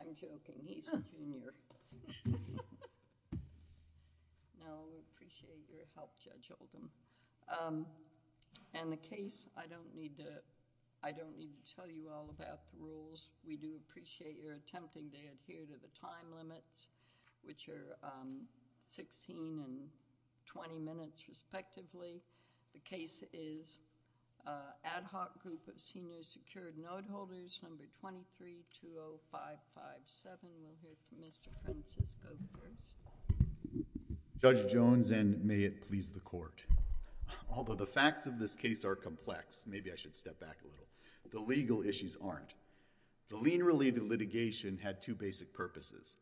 I'm joking. He's a junior. No, we appreciate your help, Judge Oldham. And the case, I don't need to tell you all about the rules. We do appreciate your attempting to adhere to the time limits, which are 16 and 20 minutes, respectively. The case is Ad Hoc Group of the New Secured Noteholders, No. 2320557. We'll hear from Mr. Francisco first. Judge Jones, and may it please the Court. Although the facts of this case are complex, maybe I should step back a little, the legal issues aren't. The lien-related litigation had two basic purposes.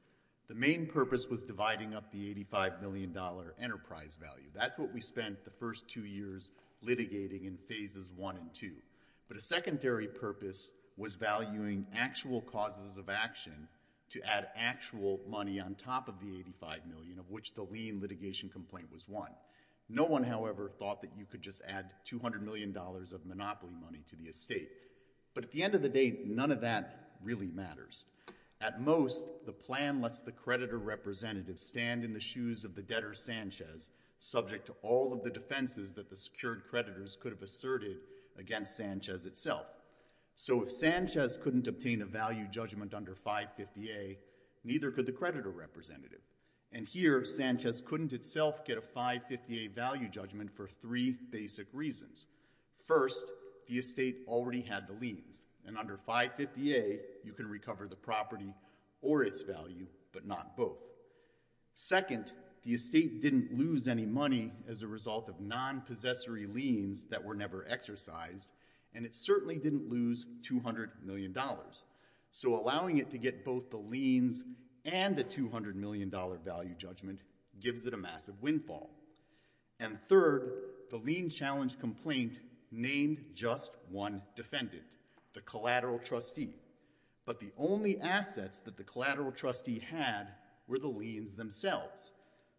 The main purpose was dividing up the $85 million enterprise value. That's what we spent the first two years litigating in phases one and two. But a secondary purpose was valuing actual causes of action to add actual money on top of the $85 million, of which the lien litigation complaint was one. No one, however, thought that you could just add $200 million of monopoly money to the estate. But at the end of the day, none of that really matters. At most, the plan lets the creditor representative stand in the shoes of the debtor Sanchez, subject to all of the defenses that the secured creditors could have asserted against Sanchez itself. So if Sanchez couldn't obtain a value judgment under 550A, neither could the creditor representative. And here, Sanchez couldn't itself get a 550A value judgment for three basic reasons. First, the estate already had the liens, and under 550A, you can recover the property or its value, but not both. Second, the estate didn't lose any money as a result of non-possessory liens that were never exercised, and it certainly didn't lose $200 million. So allowing it to get both the liens and the $200 million value judgment gives it a massive windfall. And third, the lien challenge complaint named just one defendant, the collateral trustee. But the only assets that the collateral trustee had were the liens themselves.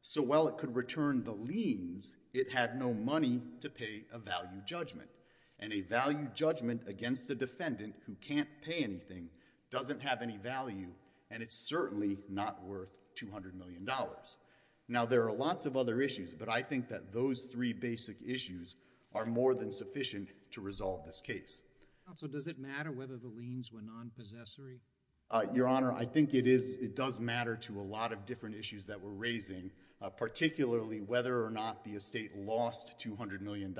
So while it could return the liens, it had no money to pay a value judgment. And a value judgment against a defendant who can't pay anything doesn't have any value, and it's certainly not worth $200 million. Now, there are lots of other issues, but I think that those three basic issues are more than sufficient to resolve this case. Counsel, does it matter whether the liens were non-possessory? Your Honor, I think it does matter to a lot of different issues that we're raising, particularly whether or not the estate lost $200 million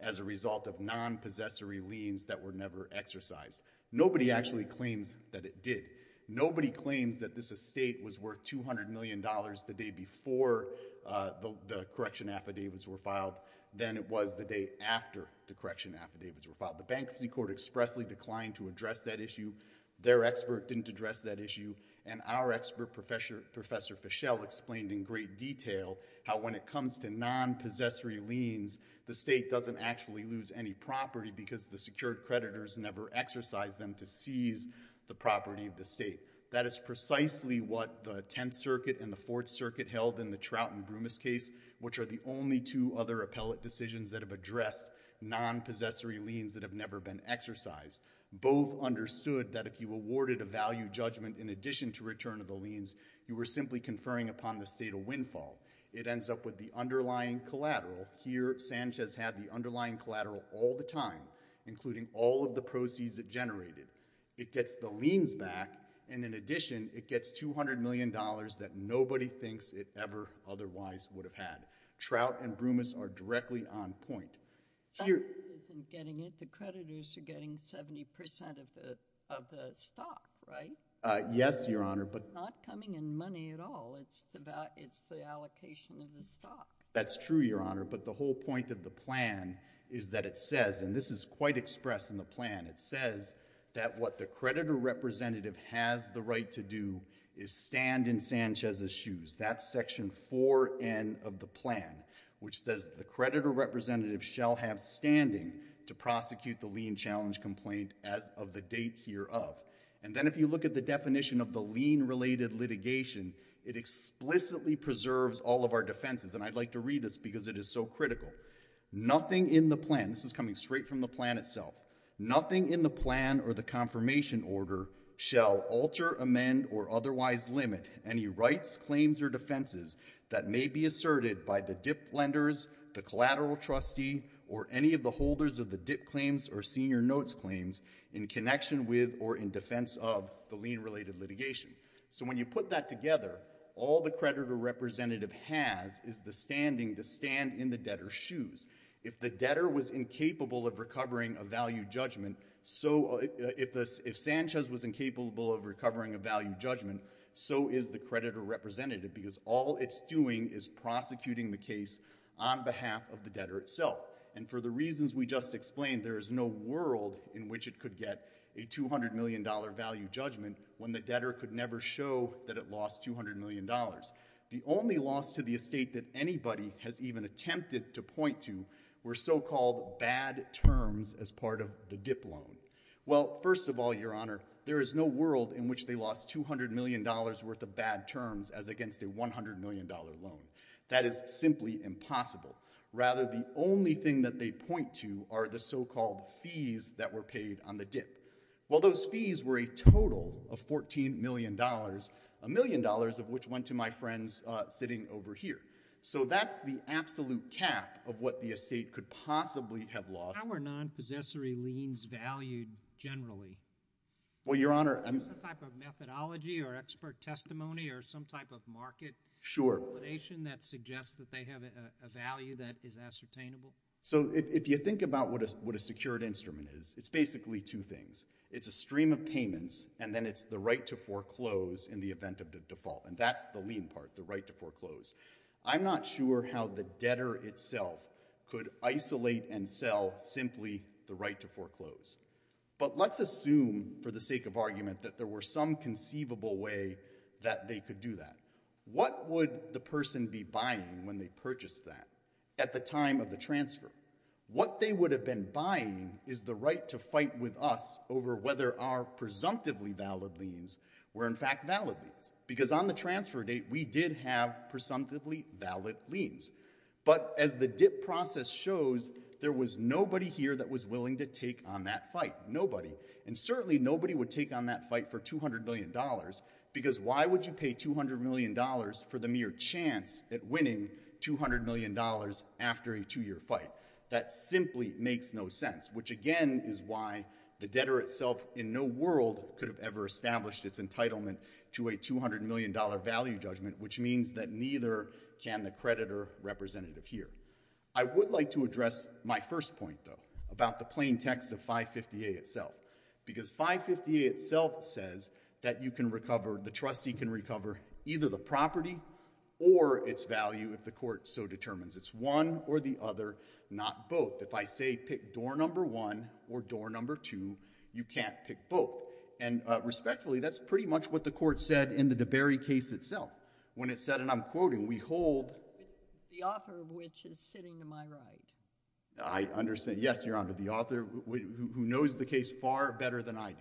as a result of non-possessory liens that were never exercised. Nobody actually claims that it did. Nobody claims that this estate was worth $200 million the day before the correction affidavits were filed than it was the day after the correction affidavits were filed. The Bankruptcy Court expressly declined to address that issue. Their expert didn't address that issue. And our expert, Professor Fischel, explained in great detail how when it comes to non-possessory liens, the state doesn't actually lose any property because the secured creditors never exercised them to seize the 10th Circuit and the 4th Circuit held in the Trout and Brumis case, which are the only two other appellate decisions that have addressed non-possessory liens that have never been exercised. Both understood that if you awarded a value judgment in addition to return of the liens, you were simply conferring upon the state of windfall. It ends up with the underlying collateral. Here, Sanchez had the underlying collateral all the time, including all of the proceeds it generated. It gets the liens back, and in addition, it gets $200 million that nobody thinks it ever otherwise would have had. Trout and Brumis are directly on point. But this isn't getting it. The creditors are getting 70% of the stock, right? Yes, Your Honor, but It's not coming in money at all. It's the allocation of the stock. That's true, Your Honor, but the whole point of the plan is that it says, and this is quite expressed in the plan, it says that what the creditor representative has the right to do is stand in Sanchez's shoes. That's section 4N of the plan, which says the creditor representative shall have standing to prosecute the lien challenge complaint as of the date hereof. And then if you look at the definition of the lien-related litigation, it explicitly preserves all of our defenses, and I'd like to read this because it is so critical. Nothing in the plan, this is coming straight from the plan itself, nothing in the plan or the confirmation order shall alter, amend, or otherwise limit any rights, claims, or defenses that may be asserted by the dip lenders, the collateral trustee, or any of the holders of the dip claims or senior notes claims in connection with or in defense of the lien-related litigation. So when you put that together, all the creditor representative has is the standing to stand in the debtor's shoes. If the debtor was incapable of recovering a value judgment, if Sanchez was incapable of recovering a value judgment, so is the creditor representative, because all it's doing is prosecuting the case on behalf of the debtor itself. And for the reasons we just explained, there is no world in which it could get a $200 million value judgment when the debtor could never show that it lost $200 million. The only loss to the estate that anybody has even attempted to point to were so-called bad terms as part of the dip loan. Well, first of all, Your Honor, there is no world in which they lost $200 million worth of bad terms as against a $100 million loan. That is simply impossible. Rather, the only thing that they point to are the so-called fees that were paid on the dip. Well, those fees were a total of $14 million, a million dollars of which went to my friends sitting over here. So that's the absolute cap of what the estate could possibly have lost. How are non-possessory liens valued generally? Well, Your Honor, I'm— Is there some type of methodology or expert testimony or some type of market— Sure. —validation that suggests that they have a value that is ascertainable? So if you think about what a secured instrument is, it's basically two things. It's a stream of payments, and then it's the right to foreclose in the event of the default. And that's the lien part, the right to foreclose. I'm not sure how the debtor itself could isolate and sell simply the right to foreclose. But let's assume for the sake of argument that there were some conceivable way that they could do that. What would the person be buying when they purchased that at the time of the transfer? What they would have been buying is the right to fight with us over whether our presumptively valid liens were in fact valid liens. Because on the transfer date, we did have presumptively valid liens. But as the dip process shows, there was nobody here that was willing to take on that fight. Nobody. And certainly nobody would take on that fight for $200 million because why would you pay $200 million for the mere chance at winning $200 million after a two-year fight? That simply makes no sense, which again is why the debtor itself in no world could have ever established its entitlement to a $200 million value judgment, which means that neither can the creditor representative here. I would like to address my first point, though, about the plain text of 550A itself. Because 550A itself says that you can recover, the trustee can recover either the property or its value if the court so determines. It's one or the other, not both. If I say pick door number one or door number two, you can't pick both. And respectfully, that's pretty much what the court said in the DeBerry case itself. When it said, and I'm quoting, we hold— The author of which is sitting to my right. I understand. Yes, Your Honor, the author who knows the case far better than I do.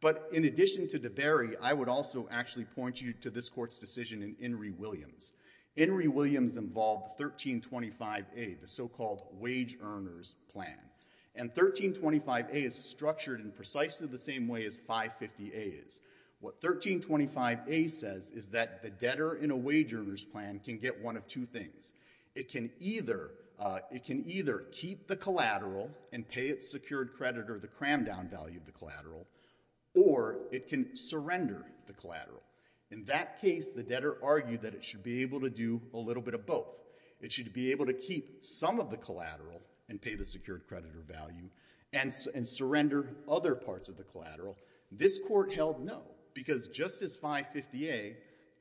But in addition to DeBerry, I would also actually point you to this court's decision in Enri Williams. Enri Williams involved 1325A, the so-called wage earners plan. And 1325A is structured in precisely the same way as 550A is. What 1325A says is that the debtor in a wage earners plan can get one of two things. It can either keep the collateral and pay its secured creditor the cram-down value of the collateral, or it can surrender the collateral. In that case, the debtor argued that it should be able to do a little bit of both. It should be able to keep some of the collateral and pay the secured creditor value and surrender other parts of the collateral. This court held no, because just as 550A,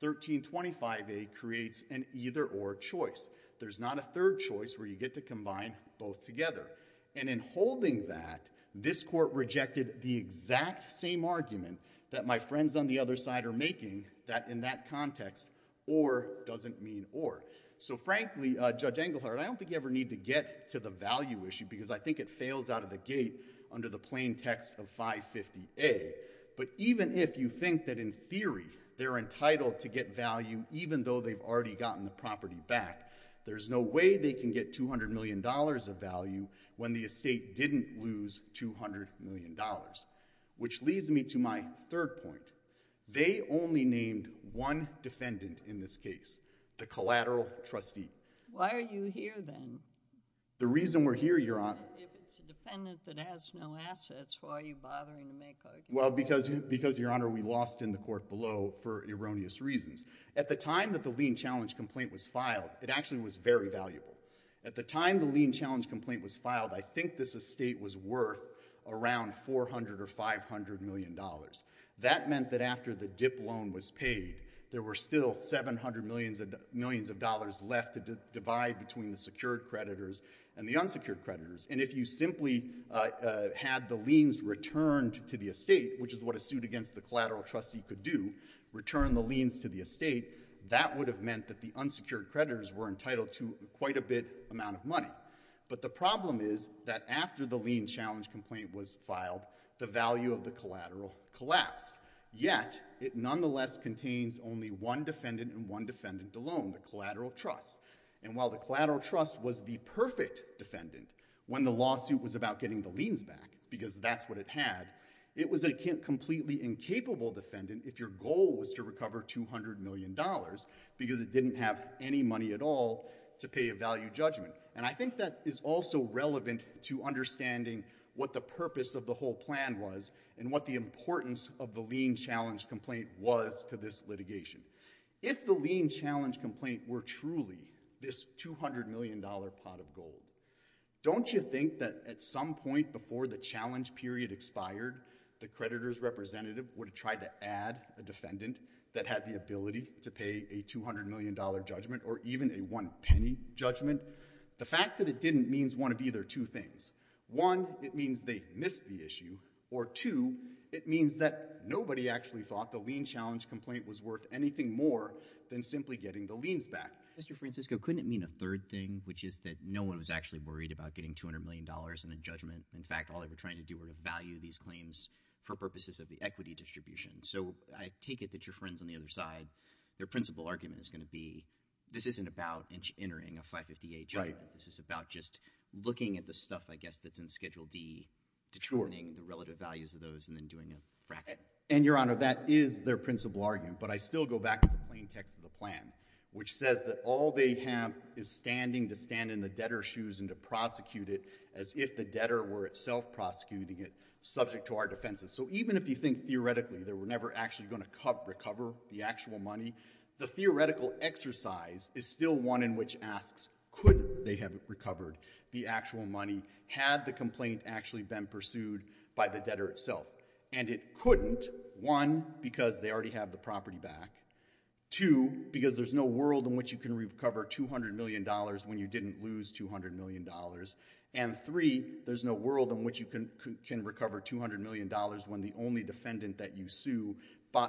1325A creates an either-or choice. There's not a third choice where you get to combine both together. And in holding that, this court rejected the exact same argument that my friends on the other side are making, that in that context, or doesn't mean or. So frankly, Judge Engelhardt, I don't think you ever need to get to the value issue because I think it fails out of the gate under the plain text of 550A. But even if you think that in theory they're entitled to get value even though they've already gotten the property back, there's no way they can get $200 million of value when the estate didn't lose $200 million. Which leads me to my third point. They only named one defendant in this case, the collateral trustee. Why are you here then? The reason we're here, Your Honor— If it's a defendant that has no assets, why are you bothering to make arguments? Well, because, Your Honor, we lost in the court below for erroneous reasons. At the time that the lien challenge complaint was filed, it actually was very valuable. At the time the lien challenge complaint was filed, I think this estate was worth around $400 or $500 million. That meant that after the dip loan was paid, there were still $700 million left to divide between the secured creditors and the unsecured creditors. And if you simply had the liens returned to the estate, which is what a suit against the collateral trustee could do, return the liens to the estate, that would have meant that the unsecured creditors were entitled to quite a bit amount of money. But the problem is that after the lien challenge complaint was filed, the value of the collateral collapsed. Yet, it nonetheless contains only one defendant and one defendant alone, the collateral trust. And while the collateral trust was the perfect defendant when the lawsuit was about getting the liens back, because that's what it had, it was a completely incapable defendant if your goal was to recover $200 million because it didn't have any money at all to pay a value judgment. And I think that is also relevant to understanding what the purpose of the whole plan was and what the importance of the lien challenge complaint was to this litigation. If the lien challenge complaint were truly this $200 million pot of gold, don't you think that at some point before the challenge period expired, the creditors' representative would have tried to add a defendant that had the ability to pay a $200 million judgment or even a one-penny judgment? The fact that it didn't means one of either two things. One, it means they missed the issue. Or two, it means that nobody actually thought the lien challenge complaint was worth anything more than simply getting the liens back. Mr. Francisco, couldn't it mean a third thing, which is that no one was actually worried about getting $200 million and a judgment? In fact, all they were trying to do were to value these claims for purposes of the equity distribution. So I take it that your friends on the other side, their principal argument is going to be this isn't about entering a 558 judgment. This is about just looking at the stuff, I guess, that's in Schedule D, determining the relative values of those, and then doing a fraction. And, Your Honor, that is their principal argument. But I still go back to the plain text of the plan, which says that all they have is standing to stand in the debtor's shoes and to prosecute it as if the debtor were itself prosecuting it, subject to our defenses. So even if you think theoretically they were never actually going to recover the actual money, the theoretical exercise is still one in which asks could they have recovered the actual money had the complaint actually been pursued by the debtor itself. And it couldn't, one, because they already have the property back, two, because there's no world in which you can recover $200 million when you didn't lose $200 million, and three, there's no world in which you can recover $200 million when the only defendant that you sue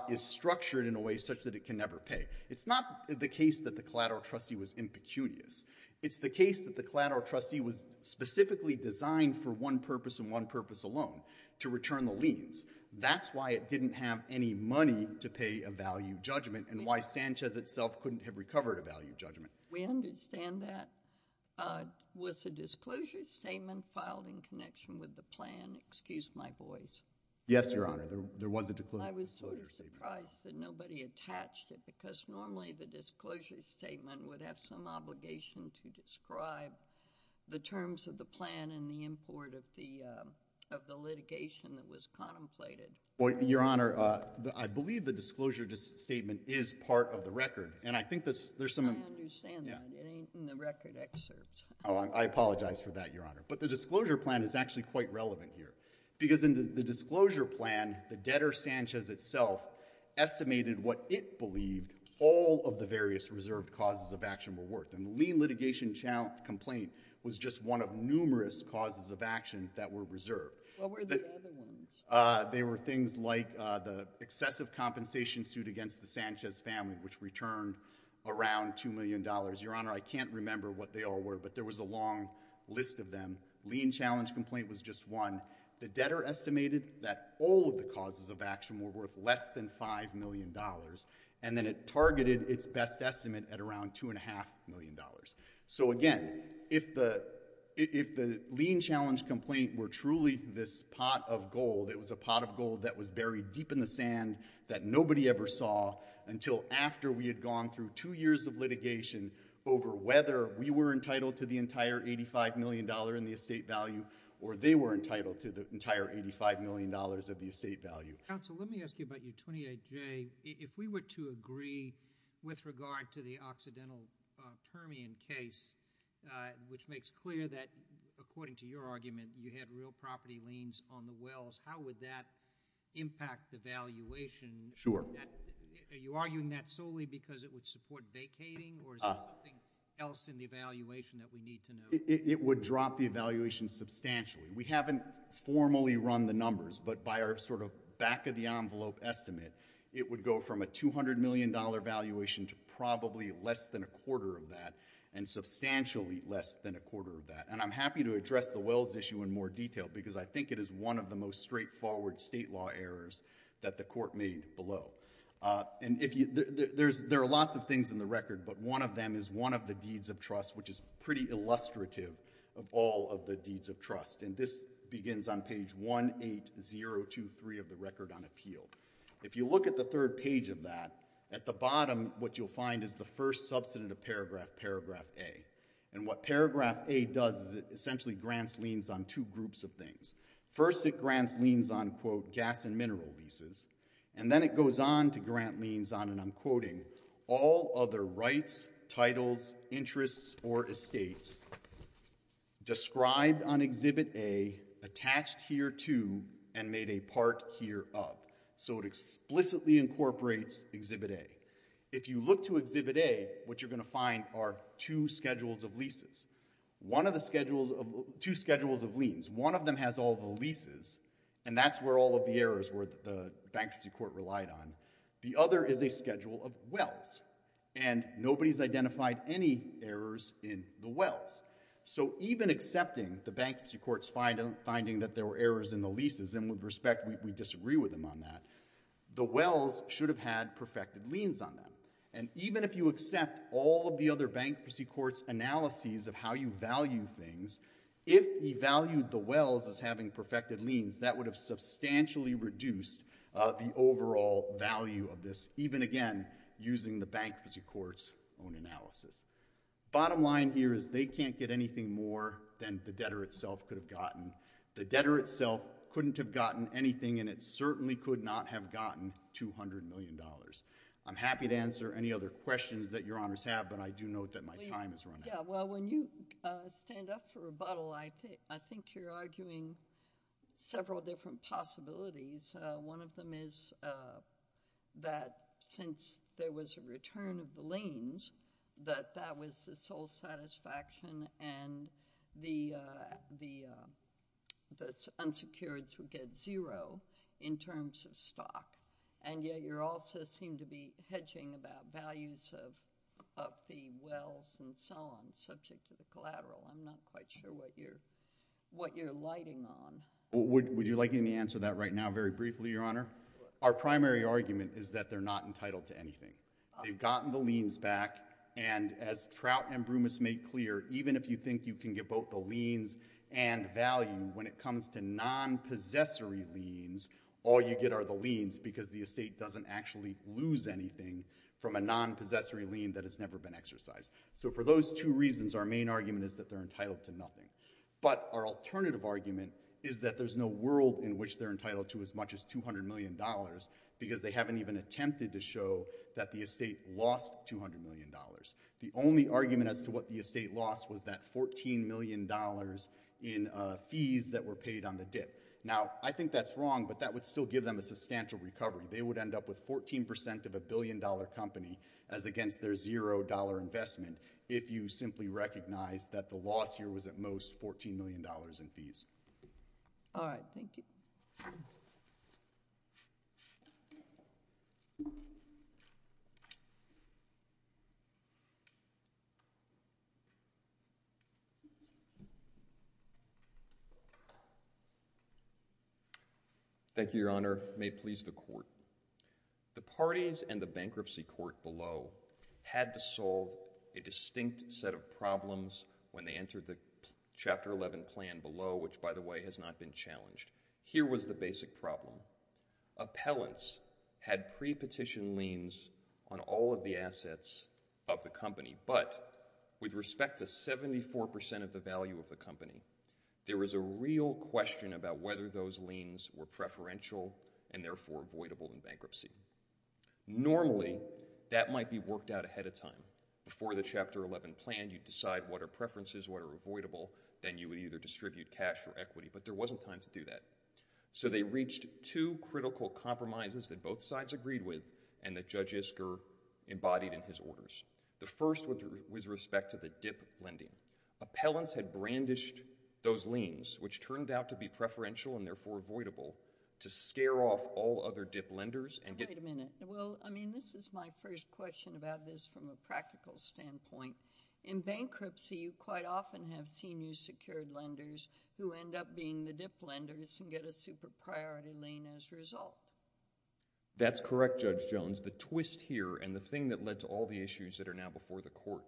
is structured in a way such that it can never pay. It's not the case that the collateral trustee was impecunious. It's the case that the collateral trustee was specifically designed for one purpose and one purpose alone, to return the liens. That's why it didn't have any money to pay a value judgment and why Sanchez itself couldn't have recovered a value judgment. We understand that. Was the disclosure statement filed in connection with the plan? Excuse my voice. Yes, Your Honor. There was a disclosure statement. I was sort of surprised that nobody attached it because normally the disclosure statement would have some obligation to describe the terms of the plan and the import of the litigation that was contemplated. Your Honor, I believe the disclosure statement is part of the record, and I think there's some... I understand that. It ain't in the record excerpts. Oh, I apologize for that, Your Honor. But the disclosure plan is actually quite relevant here because in the disclosure plan, the debtor, Sanchez itself, estimated what it believed all of the various reserved causes of action were worth. And the lien litigation complaint was just one of numerous causes of action that were reserved. What were the other ones? They were things like the excessive compensation suit against the Sanchez family, which returned around $2 million. Your Honor, I can't remember what they all were, but there was a long list of them. Lien challenge complaint was just one. The debtor estimated that all of the causes of action were worth less than $5 million, and then it targeted its best estimate at around $2.5 million. So again, if the lien challenge complaint were truly this pot of gold, it was a pot of gold that was buried deep in the sand that nobody ever saw until after we had gone through two years of litigation over whether we were entitled to the entire $85 million in the estate value or they were entitled to the entire $85 million of the estate value. Counsel, let me ask you about your 28J. If we were to agree with regard to the Occidental Termian case, which makes clear that, according to your argument, you had real property liens on the wells, how would that impact the valuation? Sure. Are you arguing that solely because it would support vacating or is there something else in the evaluation that we need to know? It would drop the valuation substantially. We haven't formally run the numbers, but by our sort of back-of-the-envelope estimate, it would go from a $200 million valuation to probably less than a quarter of that and substantially less than a quarter of that. And I'm happy to address the wells issue in more detail because I think it is one of the most straightforward state law errors that the Court made below. And there are lots of things in the record, but one of them is one of the deeds of trust, which is pretty illustrative of all of the deeds of trust. And this begins on page 18023 of the Record on Appeal. If you look at the third page of that, at the bottom, what you'll find is the first substantive paragraph, paragraph A. And what paragraph A does is it essentially grants liens on two groups of things. First, it grants liens on, quote, gas and mineral leases. And then it goes on to grant liens on, and I'm quoting, all other rights, titles, interests, or estates described on Exhibit A, attached here to, and made a part here of. So it explicitly incorporates Exhibit A. If you look to Exhibit A, what you're going to find are two schedules of leases, two schedules of liens. One of them has all the leases, and that's where all of the errors were that the Bankruptcy Court relied on. The other is a schedule of wells, and nobody's identified any errors in the wells. So even accepting the Bankruptcy Court's finding that there were errors in the leases, and with respect, we disagree with them on that, the wells should have had perfected liens on them. And even if you accept all of the other Bankruptcy Court's analyses of how you value things, if you valued the wells as having perfected liens, that would have substantially reduced the overall value of this, even, again, using the Bankruptcy Court's own analysis. Bottom line here is they can't get anything more than the debtor itself could have gotten. The debtor itself couldn't have gotten anything, and it certainly could not have gotten $200 million. I'm happy to answer any other questions that your Honours have, but I do note that my time is running out. Yeah, well, when you stand up for rebuttal, I think you're arguing several different possibilities. One of them is that since there was a return of the liens, that that was the sole satisfaction and the unsecureds would get zero in terms of stock. And yet you also seem to be hedging about values of the wells and so on, subject to the collateral. I'm not quite sure what you're lighting on. Would you like me to answer that right now very briefly, Your Honour? Our primary argument is that they're not entitled to anything. They've gotten the liens back, and as Trout and Brumus made clear, even if you think you can get both the liens and value, when it comes to non-possessory liens, all you get are the liens, because the estate doesn't actually lose anything from a non-possessory lien that has never been exercised. So for those two reasons, our main argument is that they're entitled to nothing. But our alternative argument is that there's no world in which they're entitled to as much as $200 million, because they haven't even attempted to show that the estate lost $200 million. The only argument as to what the estate lost was that $14 million in fees that were paid on the dip. Now, I think that's wrong, but that would still give them a substantial recovery. They would end up with 14% of a billion-dollar company as against their zero-dollar investment if you simply recognize that the loss here was at most $14 million in fees. All right, thank you. Thank you, Your Honor. May it please the Court. The parties and the bankruptcy court below had to solve a distinct set of problems when they entered the Chapter 11 plan below, which, by the way, has not been challenged. Here was the basic problem. Appellants had pre-petition liens on all of the assets of the company, but with respect to 74% of the value of the company, there was a real question about whether those liens were preferential and therefore avoidable in bankruptcy. Normally, that might be worked out ahead of time. Before the Chapter 11 plan, you'd decide what are preferences, what are avoidable. Then you would either distribute cash or equity, but there wasn't time to do that. So they reached two critical compromises that both sides agreed with and that Judge Isker embodied in his orders. The first was with respect to the dip lending. Appellants had brandished those liens, which turned out to be preferential and therefore avoidable, to scare off all other dip lenders and get... Wait a minute. Well, I mean, this is my first question about this from a practical standpoint. In bankruptcy, you quite often have senior secured lenders who end up being the dip lenders and get a super priority lien as a result. That's correct, Judge Jones. The twist here and the thing that led to all the issues that are now before the court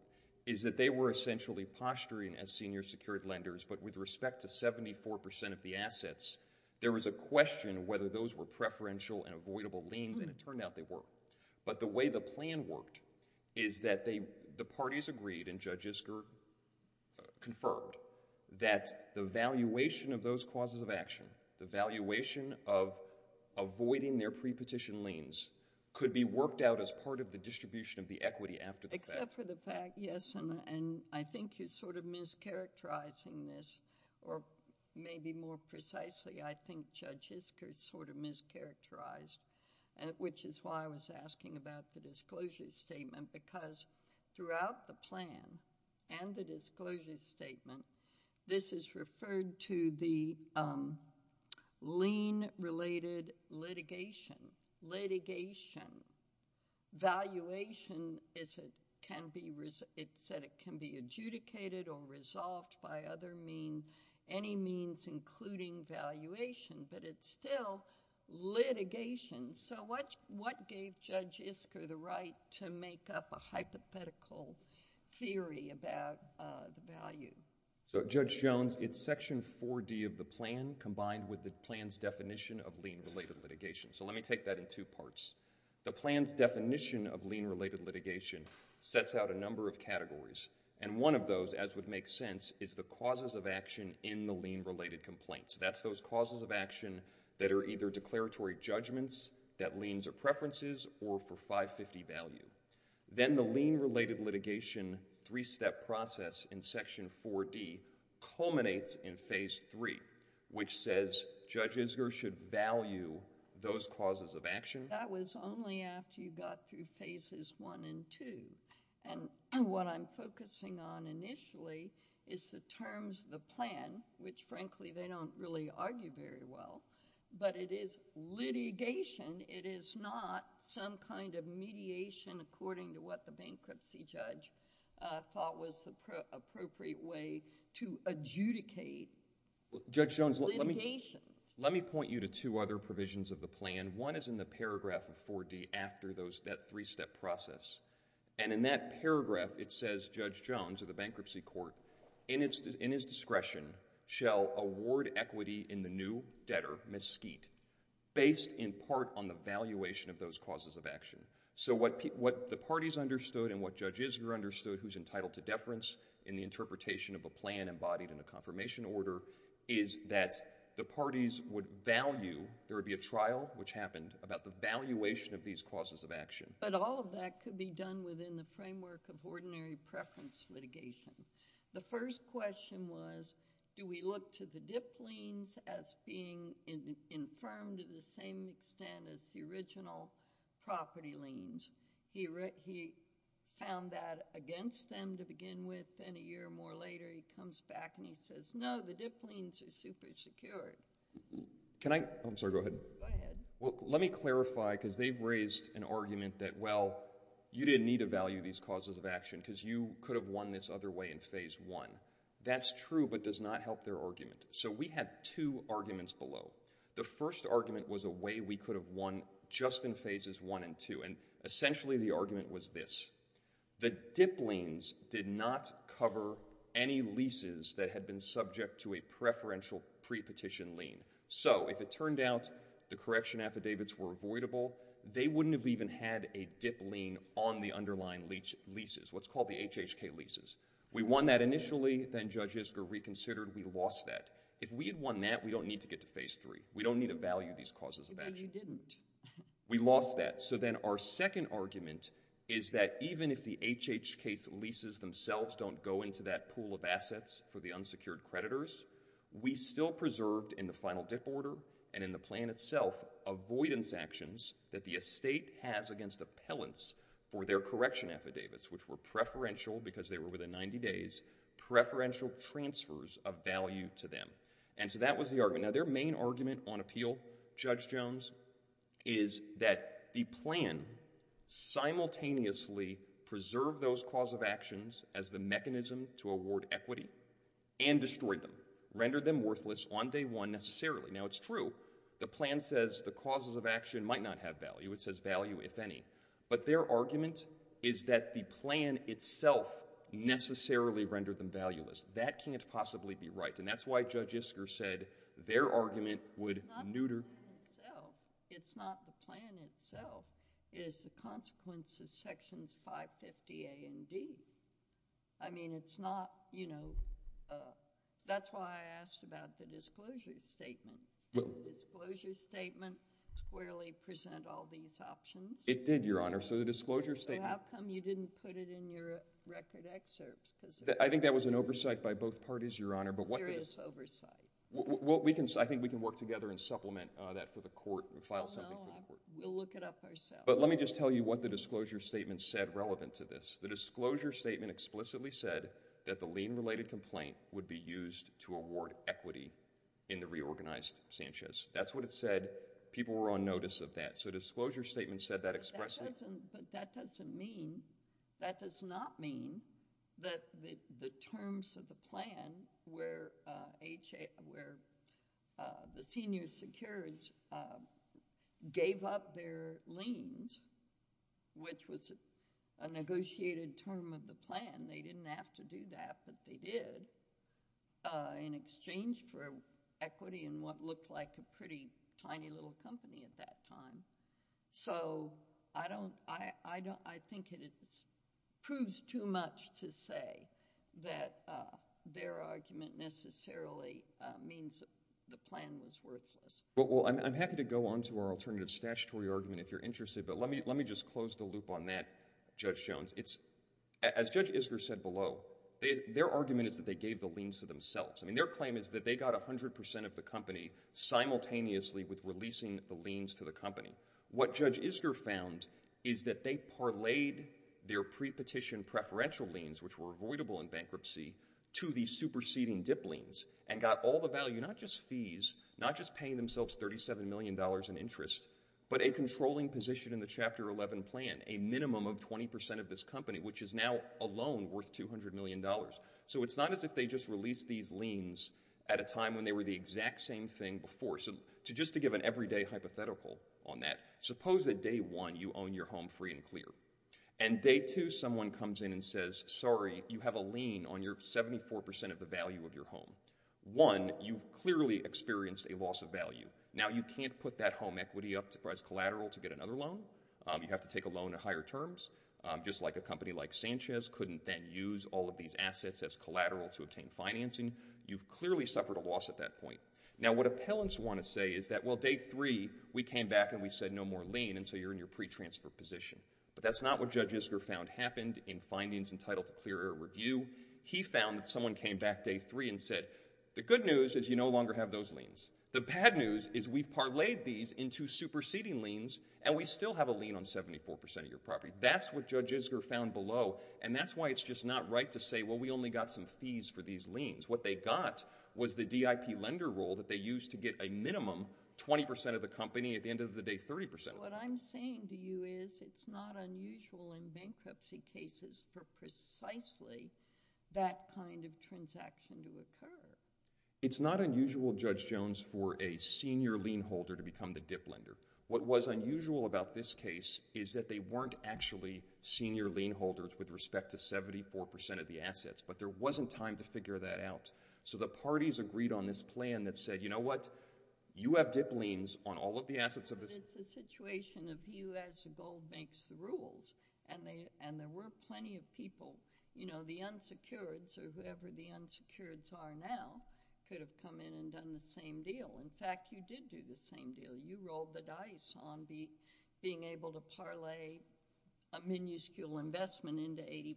is that they were essentially posturing as senior secured lenders, but with respect to 74% of the assets, there was a question whether those were preferential and avoidable liens, and it turned out they were. But the way the plan worked is that the parties agreed, and Judge Isker confirmed, that the valuation of those causes of action, the valuation of avoiding their pre-petition liens, could be worked out as part of the distribution of the equity after the fact. Except for the fact, yes, and I think you're sort of mischaracterizing this, or maybe more precisely, I think Judge Isker sort of mischaracterized, which is why I was asking about the disclosure statement, because throughout the plan and the disclosure statement, this is referred to the lien-related litigation. Litigation. Valuation, it said it can be adjudicated or resolved by other means, any means including valuation, but it's still litigation. So what gave Judge Isker the right to make up a hypothetical theory about the value? So, Judge Jones, it's Section 4D of the plan combined with the plan's definition of lien-related litigation. So let me take that in two parts. The plan's definition of lien-related litigation sets out a number of categories, and one of those, as would make sense, is the causes of action in the lien-related complaint. So that's those causes of action that are either declaratory judgments that liens are preferences or for 550 value. Then the lien-related litigation three-step process in Section 4D culminates in Phase 3, which says Judge Isker should value those causes of action. That was only after you got through Phases 1 and 2, and what I'm focusing on initially is the terms of the plan, which, frankly, they don't really argue very well, but it is litigation. It is not some kind of mediation according to what the bankruptcy judge thought was the appropriate way to adjudicate litigation. Judge Jones, let me point you to two other provisions of the plan. One is in the paragraph of 4D after that three-step process, and in that paragraph, it says, Judge Jones of the Bankruptcy Court, in his discretion, shall award equity in the new debtor, Mesquite, based in part on the valuation of those causes of action. So what the parties understood and what Judge Isker understood, who's entitled to deference in the interpretation of a plan embodied in a confirmation order, is that the parties would value... There would be a trial, which happened, about the valuation of these causes of action. But all of that could be done within the framework of ordinary preference litigation. The first question was, do we look to the dipped liens as being infirmed to the same extent as the original property liens? He found that against them to begin with, then a year or more later, he comes back and he says, no, the dipped liens are super-secured. Can I... I'm sorry, go ahead. Go ahead. Well, let me clarify, because they've raised an argument that, well, you didn't need to value these causes of action because you could have won this other way in Phase 1. That's true, but does not help their argument. So we had two arguments below. The first argument was a way we could have won just in Phases 1 and 2, and essentially the argument was this. The dipped liens did not cover any leases that had been subject to a preferential pre-petition lien. So if it turned out the correction affidavits were avoidable, they wouldn't have even had a dipped lien on the underlying leases, what's called the HHK leases. We won that initially, then Judge Isker reconsidered. We lost that. If we had won that, we don't need to get to Phase 3. We don't need to value these causes of action. We lost that. So then our second argument is that even if the HHK leases themselves don't go into that pool of assets for the unsecured creditors, we still preserved in the final dip order and in the plan itself avoidance actions that the estate has against appellants for their correction affidavits, which were preferential because they were within 90 days, preferential transfers of value to them. And so that was the argument. Now, their main argument on appeal, Judge Jones, is that the plan simultaneously preserved those cause of actions as the mechanism to award equity and destroyed them, rendered them worthless on day one necessarily. Now, it's true. The plan says the causes of action might not have value. It says value, if any. But their argument is that the plan itself necessarily rendered them valueless. That can't possibly be right, and that's why Judge Isker said their argument would neuter. It's not the plan itself. It's not the plan itself. It is the consequence of sections 550 A and D. I mean, it's not, you know, that's why I asked about the disclosure statement. Did the disclosure statement squarely present all these options? It did, Your Honor. So the disclosure statement— So how come you didn't put it in your record excerpts? I think that was an oversight by both parties, Your Honor. There is oversight. Well, I think we can work together and supplement that for the court and file something for the court. We'll look it up ourselves. But let me just tell you what the disclosure statement said relevant to this. The disclosure statement explicitly said that the lien-related complaint would be used to award equity in the reorganized Sanchez. That's what it said. People were on notice of that. So the disclosure statement said that expressly. But that doesn't mean, that does not mean that the terms of the plan where the senior securities gave up their liens, which was a negotiated term of the plan, they didn't have to do that, but they did, in exchange for equity in what looked like a pretty tiny little company at that time. So I think it proves too much to say that their argument necessarily means the plan was worthless. Well, I'm happy to go on to our alternative statutory argument if you're interested, but let me just close the loop on that, Judge Jones. As Judge Isger said below, their argument is that they gave the liens to themselves. I mean, their claim is that they got 100% of the company simultaneously with releasing the liens to the company. What Judge Isger found is that they parlayed their pre-petition preferential liens, which were avoidable in bankruptcy, to the superseding dip liens, and got all the value, not just fees, not just paying themselves $37 million in interest, but a controlling position in the Chapter 11 plan, a minimum of 20% of this company, which is now alone worth $200 million. So it's not as if they just released these liens at a time when they were the exact same thing before. So just to give an everyday hypothetical on that, suppose that day one you own your home free and clear, and day two someone comes in and says, sorry, you have a lien on your 74% of the value of your home. One, you've clearly experienced a loss of value. Now, you can't put that home equity up as collateral to get another loan. You have to take a loan at higher terms. Just like a company like Sanchez couldn't then use all of these assets as collateral to obtain financing, you've clearly suffered a loss at that point. Now, what appellants want to say is that, well, day three we came back and we said no more lien, and so you're in your pre-transfer position. But that's not what Judge Isger found happened in findings entitled to clear or review. He found that someone came back day three and said, the good news is you no longer have those liens. The bad news is we've parlayed these into superseding liens, and we still have a lien on 74% of your property. That's what Judge Isger found below, and that's why it's just not right to say, well, we only got some fees for these liens. What they got was the DIP lender role that they used to get a minimum 20% of the company, at the end of the day, 30%. What I'm saying to you is it's not unusual in bankruptcy cases for precisely that kind of transaction to occur. It's not unusual, Judge Jones, for a senior lien holder to become the DIP lender. What was unusual about this case is that they weren't actually senior lien holders with respect to 74% of the assets, but there wasn't time to figure that out. So the parties agreed on this plan that said, you know what? You have DIP liens on all of the assets of this... But it's a situation of you as the gold bank's rules, and there were plenty of people. You know, the unsecureds, or whoever the unsecureds are now, could have come in and done the same deal. In fact, you did do the same deal. You rolled the dice on being able to parlay a minuscule investment into 80%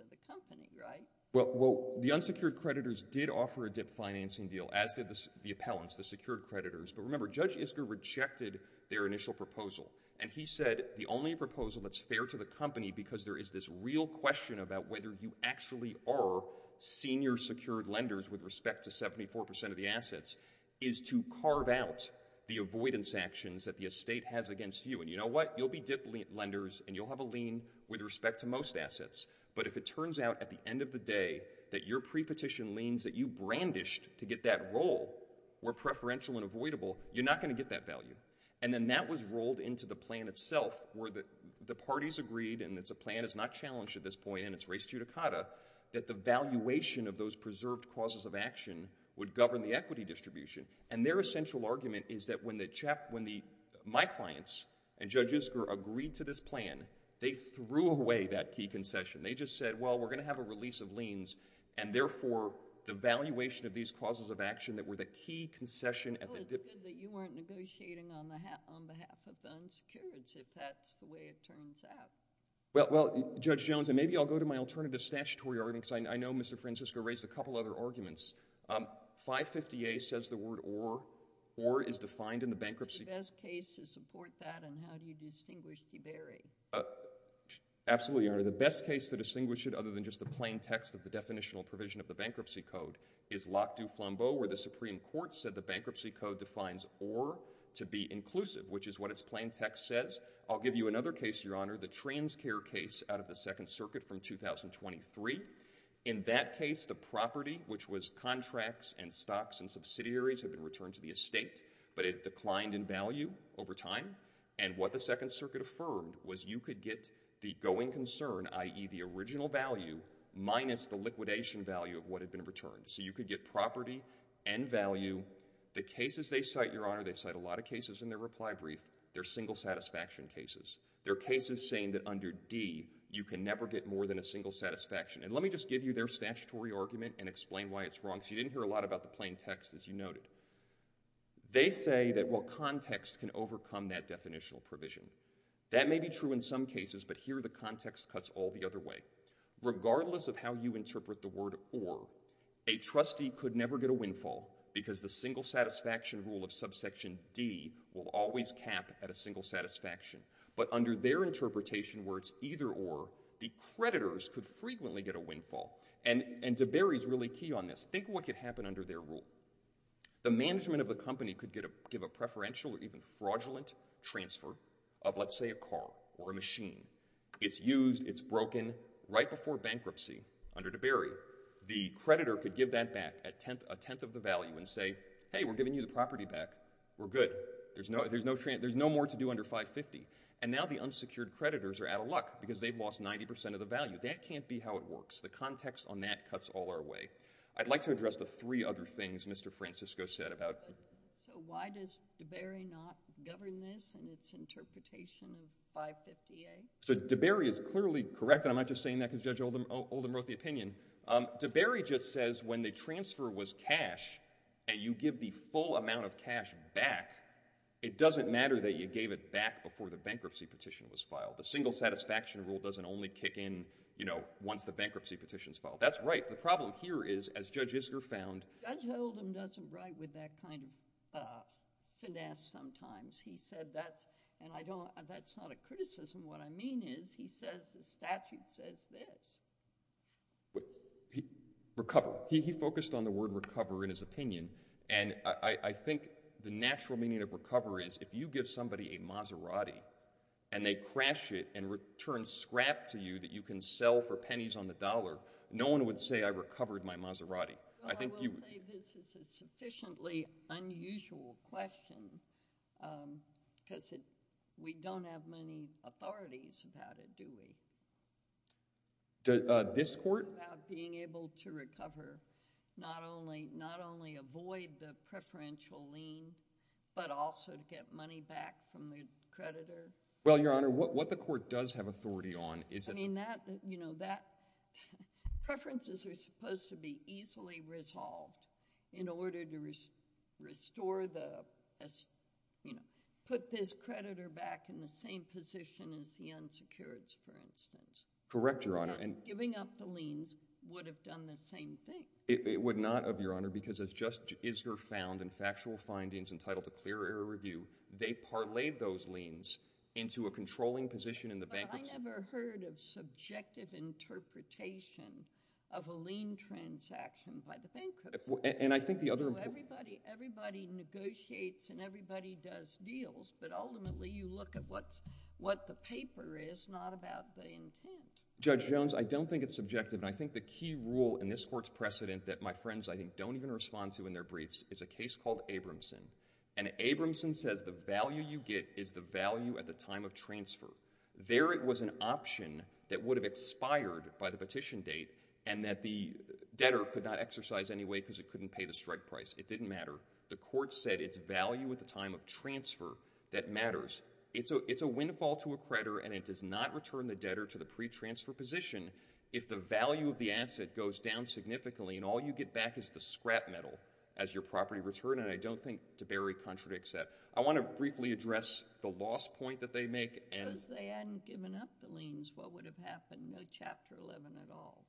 of the company, right? Well, the unsecured creditors did offer a DIP financing deal, as did the appellants, the secured creditors. But remember, Judge Isker rejected their initial proposal, and he said the only proposal that's fair to the company because there is this real question about whether you actually are senior secured lenders with respect to 74% of the assets is to carve out the avoidance actions that the estate has against you. And you know what? You'll be DIP lenders, and you'll have a lien with respect to most assets. But if it turns out at the end of the day that your prepetition liens that you brandished to get that role were preferential and avoidable, you're not going to get that value. And then that was rolled into the plan itself, where the parties agreed, and it's a plan that's not challenged at this point, and it's res judicata, that the valuation of those preserved causes of action would govern the equity distribution. And their essential argument is that when my clients and Judge Isker agreed to this plan, they threw away that key concession. They just said, well, we're going to have a release of liens, and therefore the valuation of these causes of action that were the key concession at the... Well, it's good that you weren't negotiating on behalf of the unsecured, if that's the way it turns out. Well, Judge Jones, and maybe I'll go to my alternative statutory argument, because I know Mr. Francisco raised a couple other arguments. 550A says the word or. Or is defined in the bankruptcy... What's the best case to support that, and how do you distinguish the very? Absolutely, Your Honor. The best case to distinguish it, other than just the plain text of the definitional provision of the Bankruptcy Code, is Locke v. Flambeau, where the Supreme Court said the Bankruptcy Code defines or to be inclusive, which is what its plain text says. I'll give you another case, Your Honor, the TransCare case out of the Second Circuit from 2023. In that case, the property, which was contracts and stocks and subsidiaries, had been returned to the estate, but it declined in value over time. And what the Second Circuit affirmed was you could get the going concern, i.e. the original value minus the liquidation value of what had been returned. So you could get property and value. The cases they cite, Your Honor, they cite a lot of cases in their reply brief, they're single satisfaction cases. They're cases saying that under D, you can never get more than a single satisfaction. And let me just give you their statutory argument and explain why it's wrong, because you didn't hear a lot about the plain text, as you noted. They say that, well, context can overcome that definitional provision. That may be true in some cases, but here the context cuts all the other way. Regardless of how you interpret the word or, a trustee could never get a windfall, because the single satisfaction rule of subsection D will always cap at a single satisfaction. But under their interpretation where it's either or, the creditors could frequently get a windfall. And de Berry's really key on this. Think of what could happen under their rule. The management of the company could give a preferential or even fraudulent transfer of, let's say, a car or a machine. It's used, it's broken, right before bankruptcy under de Berry. The creditor could give that back at a tenth of the value and say, hey, we're giving you the property back. We're good. There's no more to do under 550. And now the unsecured creditors are out of luck because they've lost 90% of the value. That can't be how it works. The context on that cuts all our way. I'd like to address the three other things Mr. Francisco said about... So why does de Berry not govern this in its interpretation of 550A? So de Berry is clearly correct, and I'm not just saying that because Judge Oldham wrote the opinion. De Berry just says when the transfer was cash and you give the full amount of cash back, it doesn't matter that you gave it back before the bankruptcy petition was filed. The single satisfaction rule doesn't only kick in, you know, once the bankruptcy petition's filed. That's right. The problem here is, as Judge Isger found... Judge Oldham doesn't write with that kind of finesse sometimes. He said that's... And that's not a criticism. What I mean is, he says the statute says this. Recover. He focused on the word recover in his opinion, and I think the natural meaning of recover is if you give somebody a Maserati and they crash it and return scrap to you that you can sell for pennies on the dollar, no one would say, I recovered my Maserati. Well, I will say this is a sufficiently unusual question because we don't have many authorities about it, do we? This court? About being able to recover, not only avoid the preferential lien, but also to get money back from the creditor. Well, Your Honor, what the court does have authority on is... I mean, that... Preferences are supposed to be easily resolved in order to restore the... put this creditor back in the same position as the unsecureds, for instance. Correct, Your Honor. Giving up the liens would have done the same thing. It would not have, Your Honor, because as Judge Isger found in factual findings entitled to clear error review, they parlayed those liens into a controlling position in the bank... But I never heard of subjective interpretation of a lien transaction by the bankruptcy. And I think the other... Everybody negotiates and everybody does deals, but ultimately you look at what the paper is, not about the intent. Judge Jones, I don't think it's subjective, and I think the key rule in this court's precedent that my friends I think don't even respond to in their briefs is a case called Abramson. And Abramson says the value you get is the value at the time of transfer. There it was an option that would have expired by the petition date, and that the debtor could not exercise anyway because it couldn't pay the strike price. It didn't matter. The court said it's value at the time of transfer that matters. It's a windfall to a creditor, and it does not return the debtor to the pre-transfer position if the value of the asset goes down significantly, and all you get back is the scrap metal as your property return, and I don't think de Berry contradicts that. I want to briefly address the lost point that they make. Because they hadn't given up the liens, what would have happened? No Chapter 11 at all.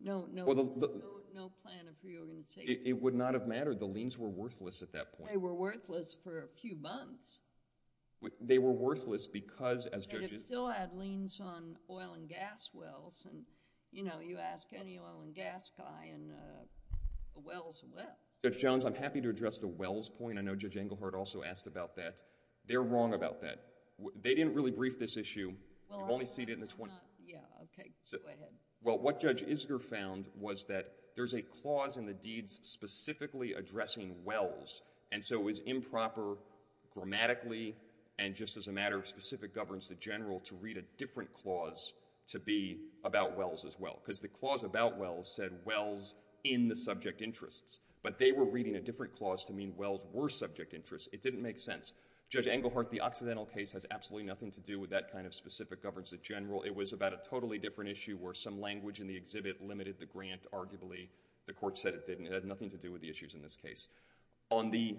No plan of reorganization. It would not have mattered. The liens were worthless at that point. They were worthless for a few months. They were worthless because, as judges... And it still had liens on oil and gas wells, and, you know, you ask any oil and gas guy, and a well's a well. Judge Jones, I'm happy to address the wells point. I know Judge Englehart also asked about that. They're wrong about that. They didn't really brief this issue. You only see it in the 20... Well, what Judge Isger found was that there's a clause in the deeds specifically addressing wells, and so it was improper grammatically and just as a matter of specific governance to general to read a different clause to be about wells as well. Because the clause about wells said wells in the subject interests. But they were reading a different clause to mean wells were subject interests. It didn't make sense. Judge Englehart, the Occidental case has absolutely nothing to do with that kind of specific governance in general. It was about a totally different issue where some language in the exhibit limited the grant, arguably. The court said it didn't. It had nothing to do with the issues in this case. On the...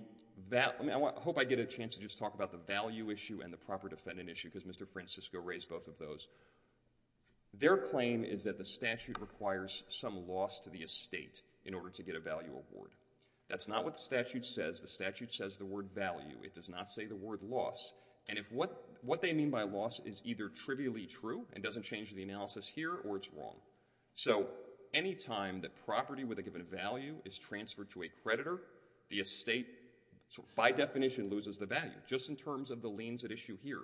I hope I get a chance to just talk about the value issue and the proper defendant issue, because Mr. Francisco raised both of those. Their claim is that the statute requires some loss to the estate in order to get a value award. That's not what the statute says. The statute says the word value. It does not say the word loss. And what they mean by loss is either trivially true and doesn't change the analysis here, or it's wrong. So any time that property with a given value is transferred to a creditor, the estate, by definition, loses the value, just in terms of the liens at issue here.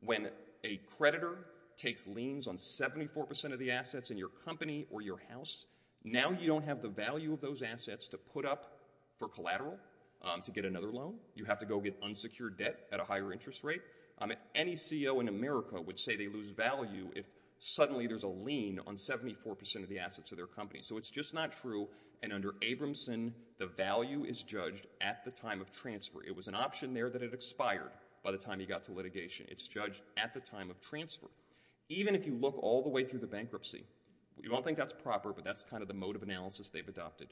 When a creditor takes liens on 74% of the assets in your company or your house, now you don't have the value of those assets to put up for collateral to get another loan. You have to go get unsecured debt at a higher interest rate. Any CEO in America would say they lose value if suddenly there's a lien on 74% of the assets of their company. So it's just not true. And under Abramson, the value is judged at the time of transfer. It was an option there that had expired by the time he got to litigation. It's judged at the time of transfer. Even if you look all the way through the bankruptcy, you won't think that's proper, but that's kind of the mode of analysis they've adopted.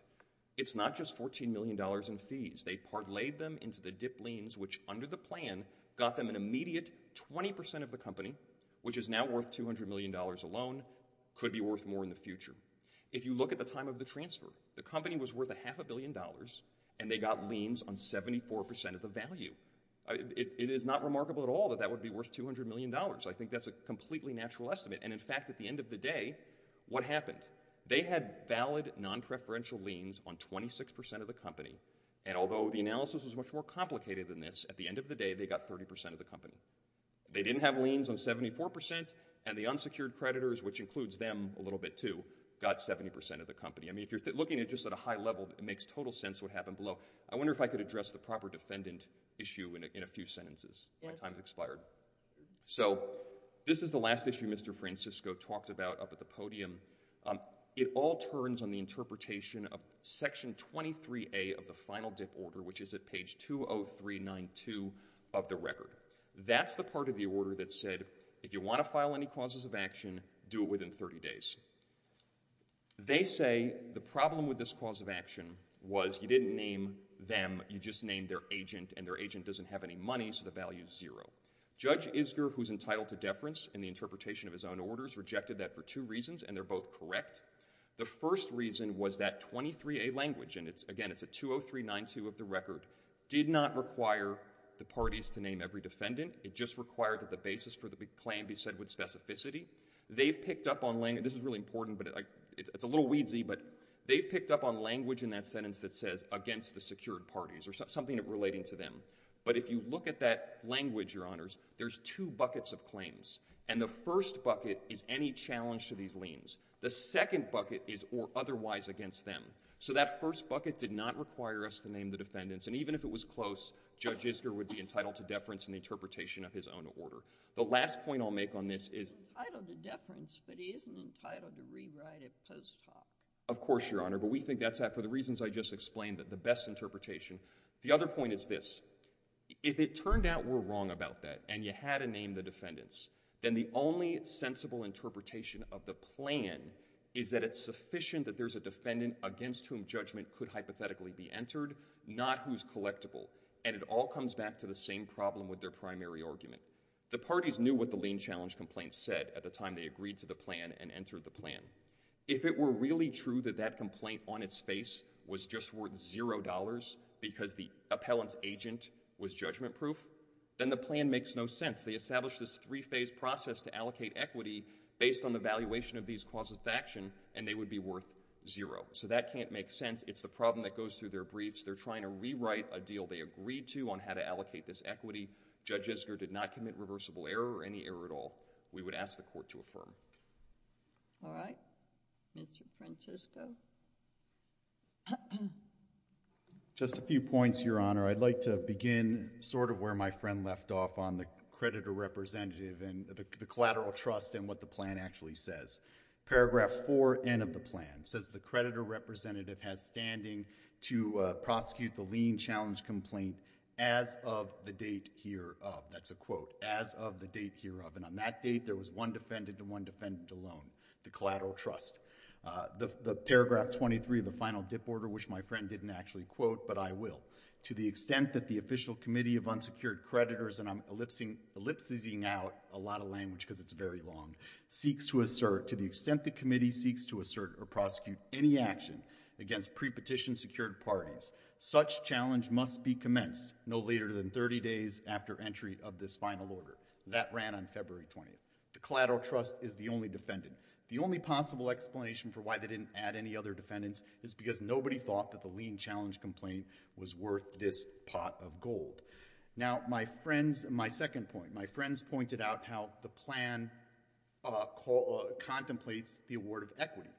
It's not just $14 million in fees. They parlayed them into the dipped liens, which, under the plan, got them an immediate 20% of the company, which is now worth $200 million alone, could be worth more in the future. If you look at the time of the transfer, the company was worth a half a billion dollars, and they got liens on 74% of the value. It is not remarkable at all that that would be worth $200 million. I think that's a completely natural estimate. And in fact, at the end of the day, what happened? They had valid non-preferential liens on 26% of the company, and although the analysis was much more complicated than this, at the end of the day, they got 30% of the company. They didn't have liens on 74%, and the unsecured creditors, which includes them a little bit, too, got 70% of the company. I mean, if you're looking at it just at a high level, it makes total sense what happened below. I wonder if I could address the proper defendant issue in a few sentences. My time has expired. So this is the last issue Mr. Francisco talked about up at the podium. It all turns on the interpretation of section 23A of the final dip order, which is at page 20392 of the record. That's the part of the order that said, if you want to file any causes of action, do it within 30 days. They say the problem with this cause of action was you didn't name them, you just named their agent, and their agent doesn't have any money, so the value's zero. Judge Isger, who's entitled to deference in the interpretation of his own orders, rejected that for two reasons, and they're both correct. The first reason was that 23A language, and again, it's at 20392 of the record, did not require the parties to name every defendant. It just required that the basis for the claim be said with specificity. They've picked up on language... This is really important, but it's a little wheezy, but they've picked up on language in that sentence that says, against the secured parties, or something relating to them. But if you look at that language, Your Honors, there's two buckets of claims. And the first bucket is any challenge to these liens. The second bucket is or otherwise against them. So that first bucket did not require us to name the defendants, and even if it was close, Judge Isger would be entitled to deference in the interpretation of his own order. The last point I'll make on this is... He's entitled to deference, but he isn't entitled to rewrite it post hoc. Of course, Your Honor. But we think that's, for the reasons I just explained, the best interpretation. The other point is this. If it turned out we're wrong about that, and you had to name the defendants, then the only sensible interpretation of the plan is that it's sufficient that there's a defendant against whom judgment could hypothetically be entered, not who's collectible. And it all comes back to the same problem with their primary argument. The parties knew what the lien challenge complaint said at the time they agreed to the plan and entered the plan. If it were really true that that complaint on its face was just worth $0 because the appellant's agent was judgment-proof, then the plan makes no sense. They established this three-phase process to allocate equity based on the valuation of these clauses of action, and they would be worth $0. So that can't make sense. It's the problem that goes through their briefs. They're trying to rewrite a deal they agreed to on how to allocate this equity. Judge Esger did not commit reversible error or any error at all. We would ask the Court to affirm. All right. Mr. Francisco. Just a few points, Your Honor. I'd like to begin sort of where my friend left off on the creditor representative and the collateral trust and what the plan actually says. Paragraph 4N of the plan says the creditor representative has standing to prosecute the lien challenge complaint as of the date hereof. That's a quote. As of the date hereof. And on that date, there was one defendant and one defendant alone, the collateral trust. The paragraph 23 of the final dip order, which my friend didn't actually quote, but I will, to the extent that the official committee of unsecured creditors, and I'm ellipsing out a lot of language because it's very long, seeks to assert, to the extent the committee seeks to assert or prosecute any action against pre-petition secured parties, such challenge must be commenced no later than 30 days after entry of this final order. That ran on February 20th. The collateral trust is the only defendant. The only possible explanation for why they didn't add any other defendants is because nobody thought that the lien challenge complaint was worth this pot of gold. Now, my friends, my second point, my friends pointed out how the plan contemplates the award of equity.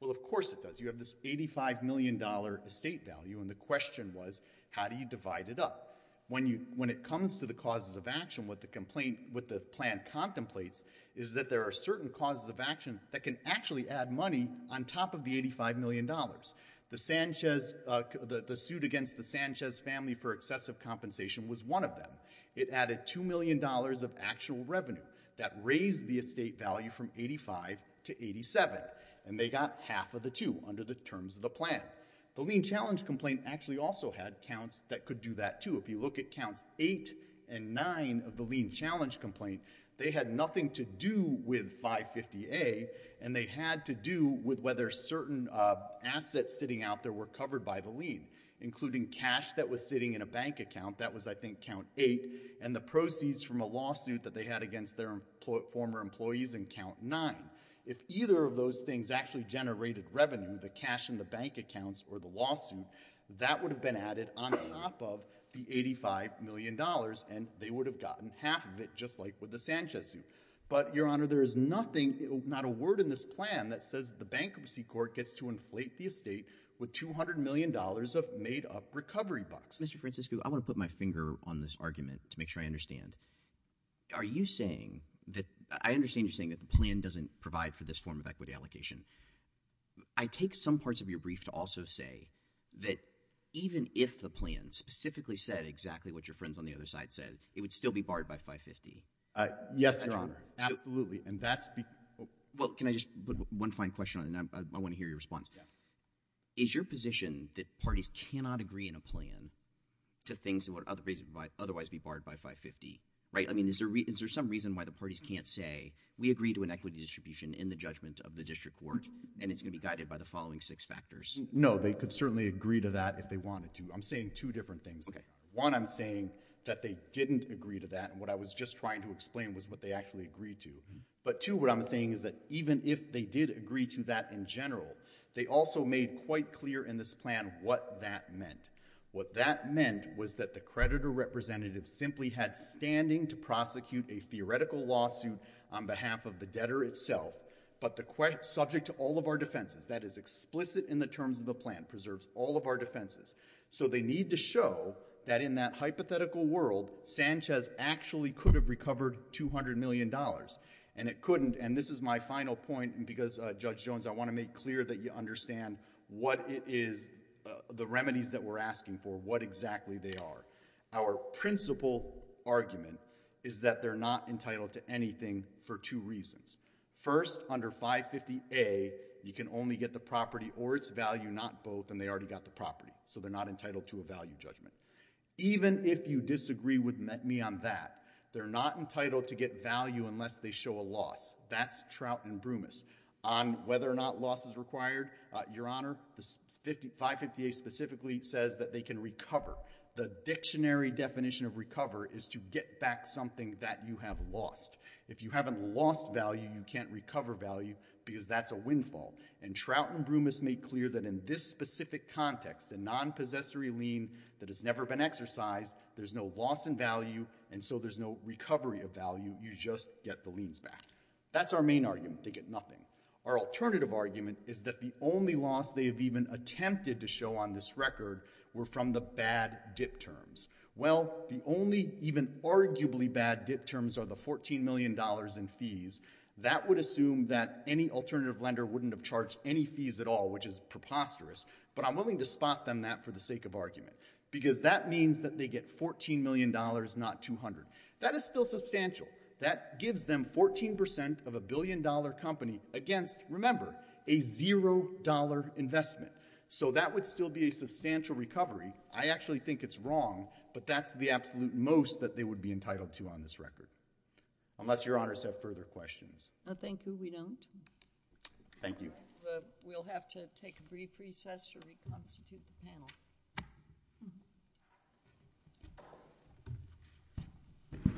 Well, of course it does. You have this $85 million estate value, and the question was, how do you divide it up? When it comes to the causes of action, what the complaint, what the plan contemplates is that there are certain causes of action that can actually add money on top of the $85 million. The suit against the Sanchez family for excessive compensation was one of them. It added $2 million of actual revenue that raised the estate value from 85 to 87, and they got half of the two under the terms of the plan. The lien challenge complaint actually also had counts that could do that, too. If you look at counts 8 and 9 of the lien challenge complaint, they had nothing to do with 550A, and they had to do with whether certain assets sitting out there were covered by the lien, including cash that was sitting in a bank account. That was, I think, count 8, and the proceeds from a lawsuit that they had against their former employees in count 9. If either of those things actually generated revenue, the cash in the bank accounts or the lawsuit, that would have been added on top of the $85 million, and they would have gotten half of it, just like with the Sanchez suit. But, Your Honor, there is nothing, not a word in this plan that says the bankruptcy court gets to inflate the estate with $200 million of made-up recovery bucks. Mr. Francisco, I want to put my finger on this argument to make sure I understand. Are you saying that, I understand you're saying that the plan doesn't provide for this form of equity allocation. I take some parts of your brief to also say that even if the plan specifically said exactly what your friends on the other side said, it would still be barred by 550. Yes, Your Honor, absolutely. And that's because... Well, can I just put one fine question on it? I want to hear your response. Yeah. Is your position that parties cannot agree in a plan to things that would otherwise be barred by 550, right? I mean, is there some reason why the parties can't say, we agree to an equity distribution in the judgment of the district court, and it's going to be guided by the following six factors? No, they could certainly agree to that if they wanted to. I'm saying two different things. One, I'm saying that they didn't agree to that, and what I was just trying to explain was what they actually agreed to. But two, what I'm saying is that even if they did agree to that in general, they also made quite clear in this plan what that meant. What that meant was that the creditor representative simply had standing to prosecute a theoretical lawsuit on behalf of the debtor itself, but the question subject to all of our defenses, that is explicit in the terms of the plan, preserves all of our defenses. So they need to show that in that hypothetical world, Sanchez actually could have recovered $200 million, and it couldn't, and this is my final point, because, Judge Jones, I want to make clear that you understand what it is, the remedies that we're asking for, what exactly they are. Our principal argument is that they're not entitled to anything for two reasons. First, under 550A, you can only get the property or its value, not both, and they already got the property, so they're not entitled to a value judgment. Even if you disagree with me on that, they're not entitled to get value unless they show a loss. That's Trout and Brumis. On whether or not loss is required, Your Honor, 550A specifically says that they can recover. The dictionary definition of recover is to get back something that you have lost. If you haven't lost value, you can't recover value, because that's a windfall, and Trout and Brumis made clear that in this specific context, a nonpossessory lien that has never been exercised, there's no loss in value, and so there's no recovery of value, you just get the liens back. That's our main argument, they get nothing. Our alternative argument is that the only loss they have even attempted to show on this record were from the bad dip terms. Well, the only even arguably bad dip terms are the $14 million in fees. That would assume that any alternative lender wouldn't have charged any fees at all, which is preposterous, but I'm willing to spot them that for the sake of argument, because that means that they get $14 million, not $200. That is still substantial. That gives them 14% of a billion-dollar company against, remember, a zero-dollar investment. So that would still be a substantial recovery. I actually think it's wrong, but that's the absolute most that they would be entitled to on this record. Unless Your Honors have further questions. I think we don't. Thank you. We'll have to take a brief recess to reconstitute the panel.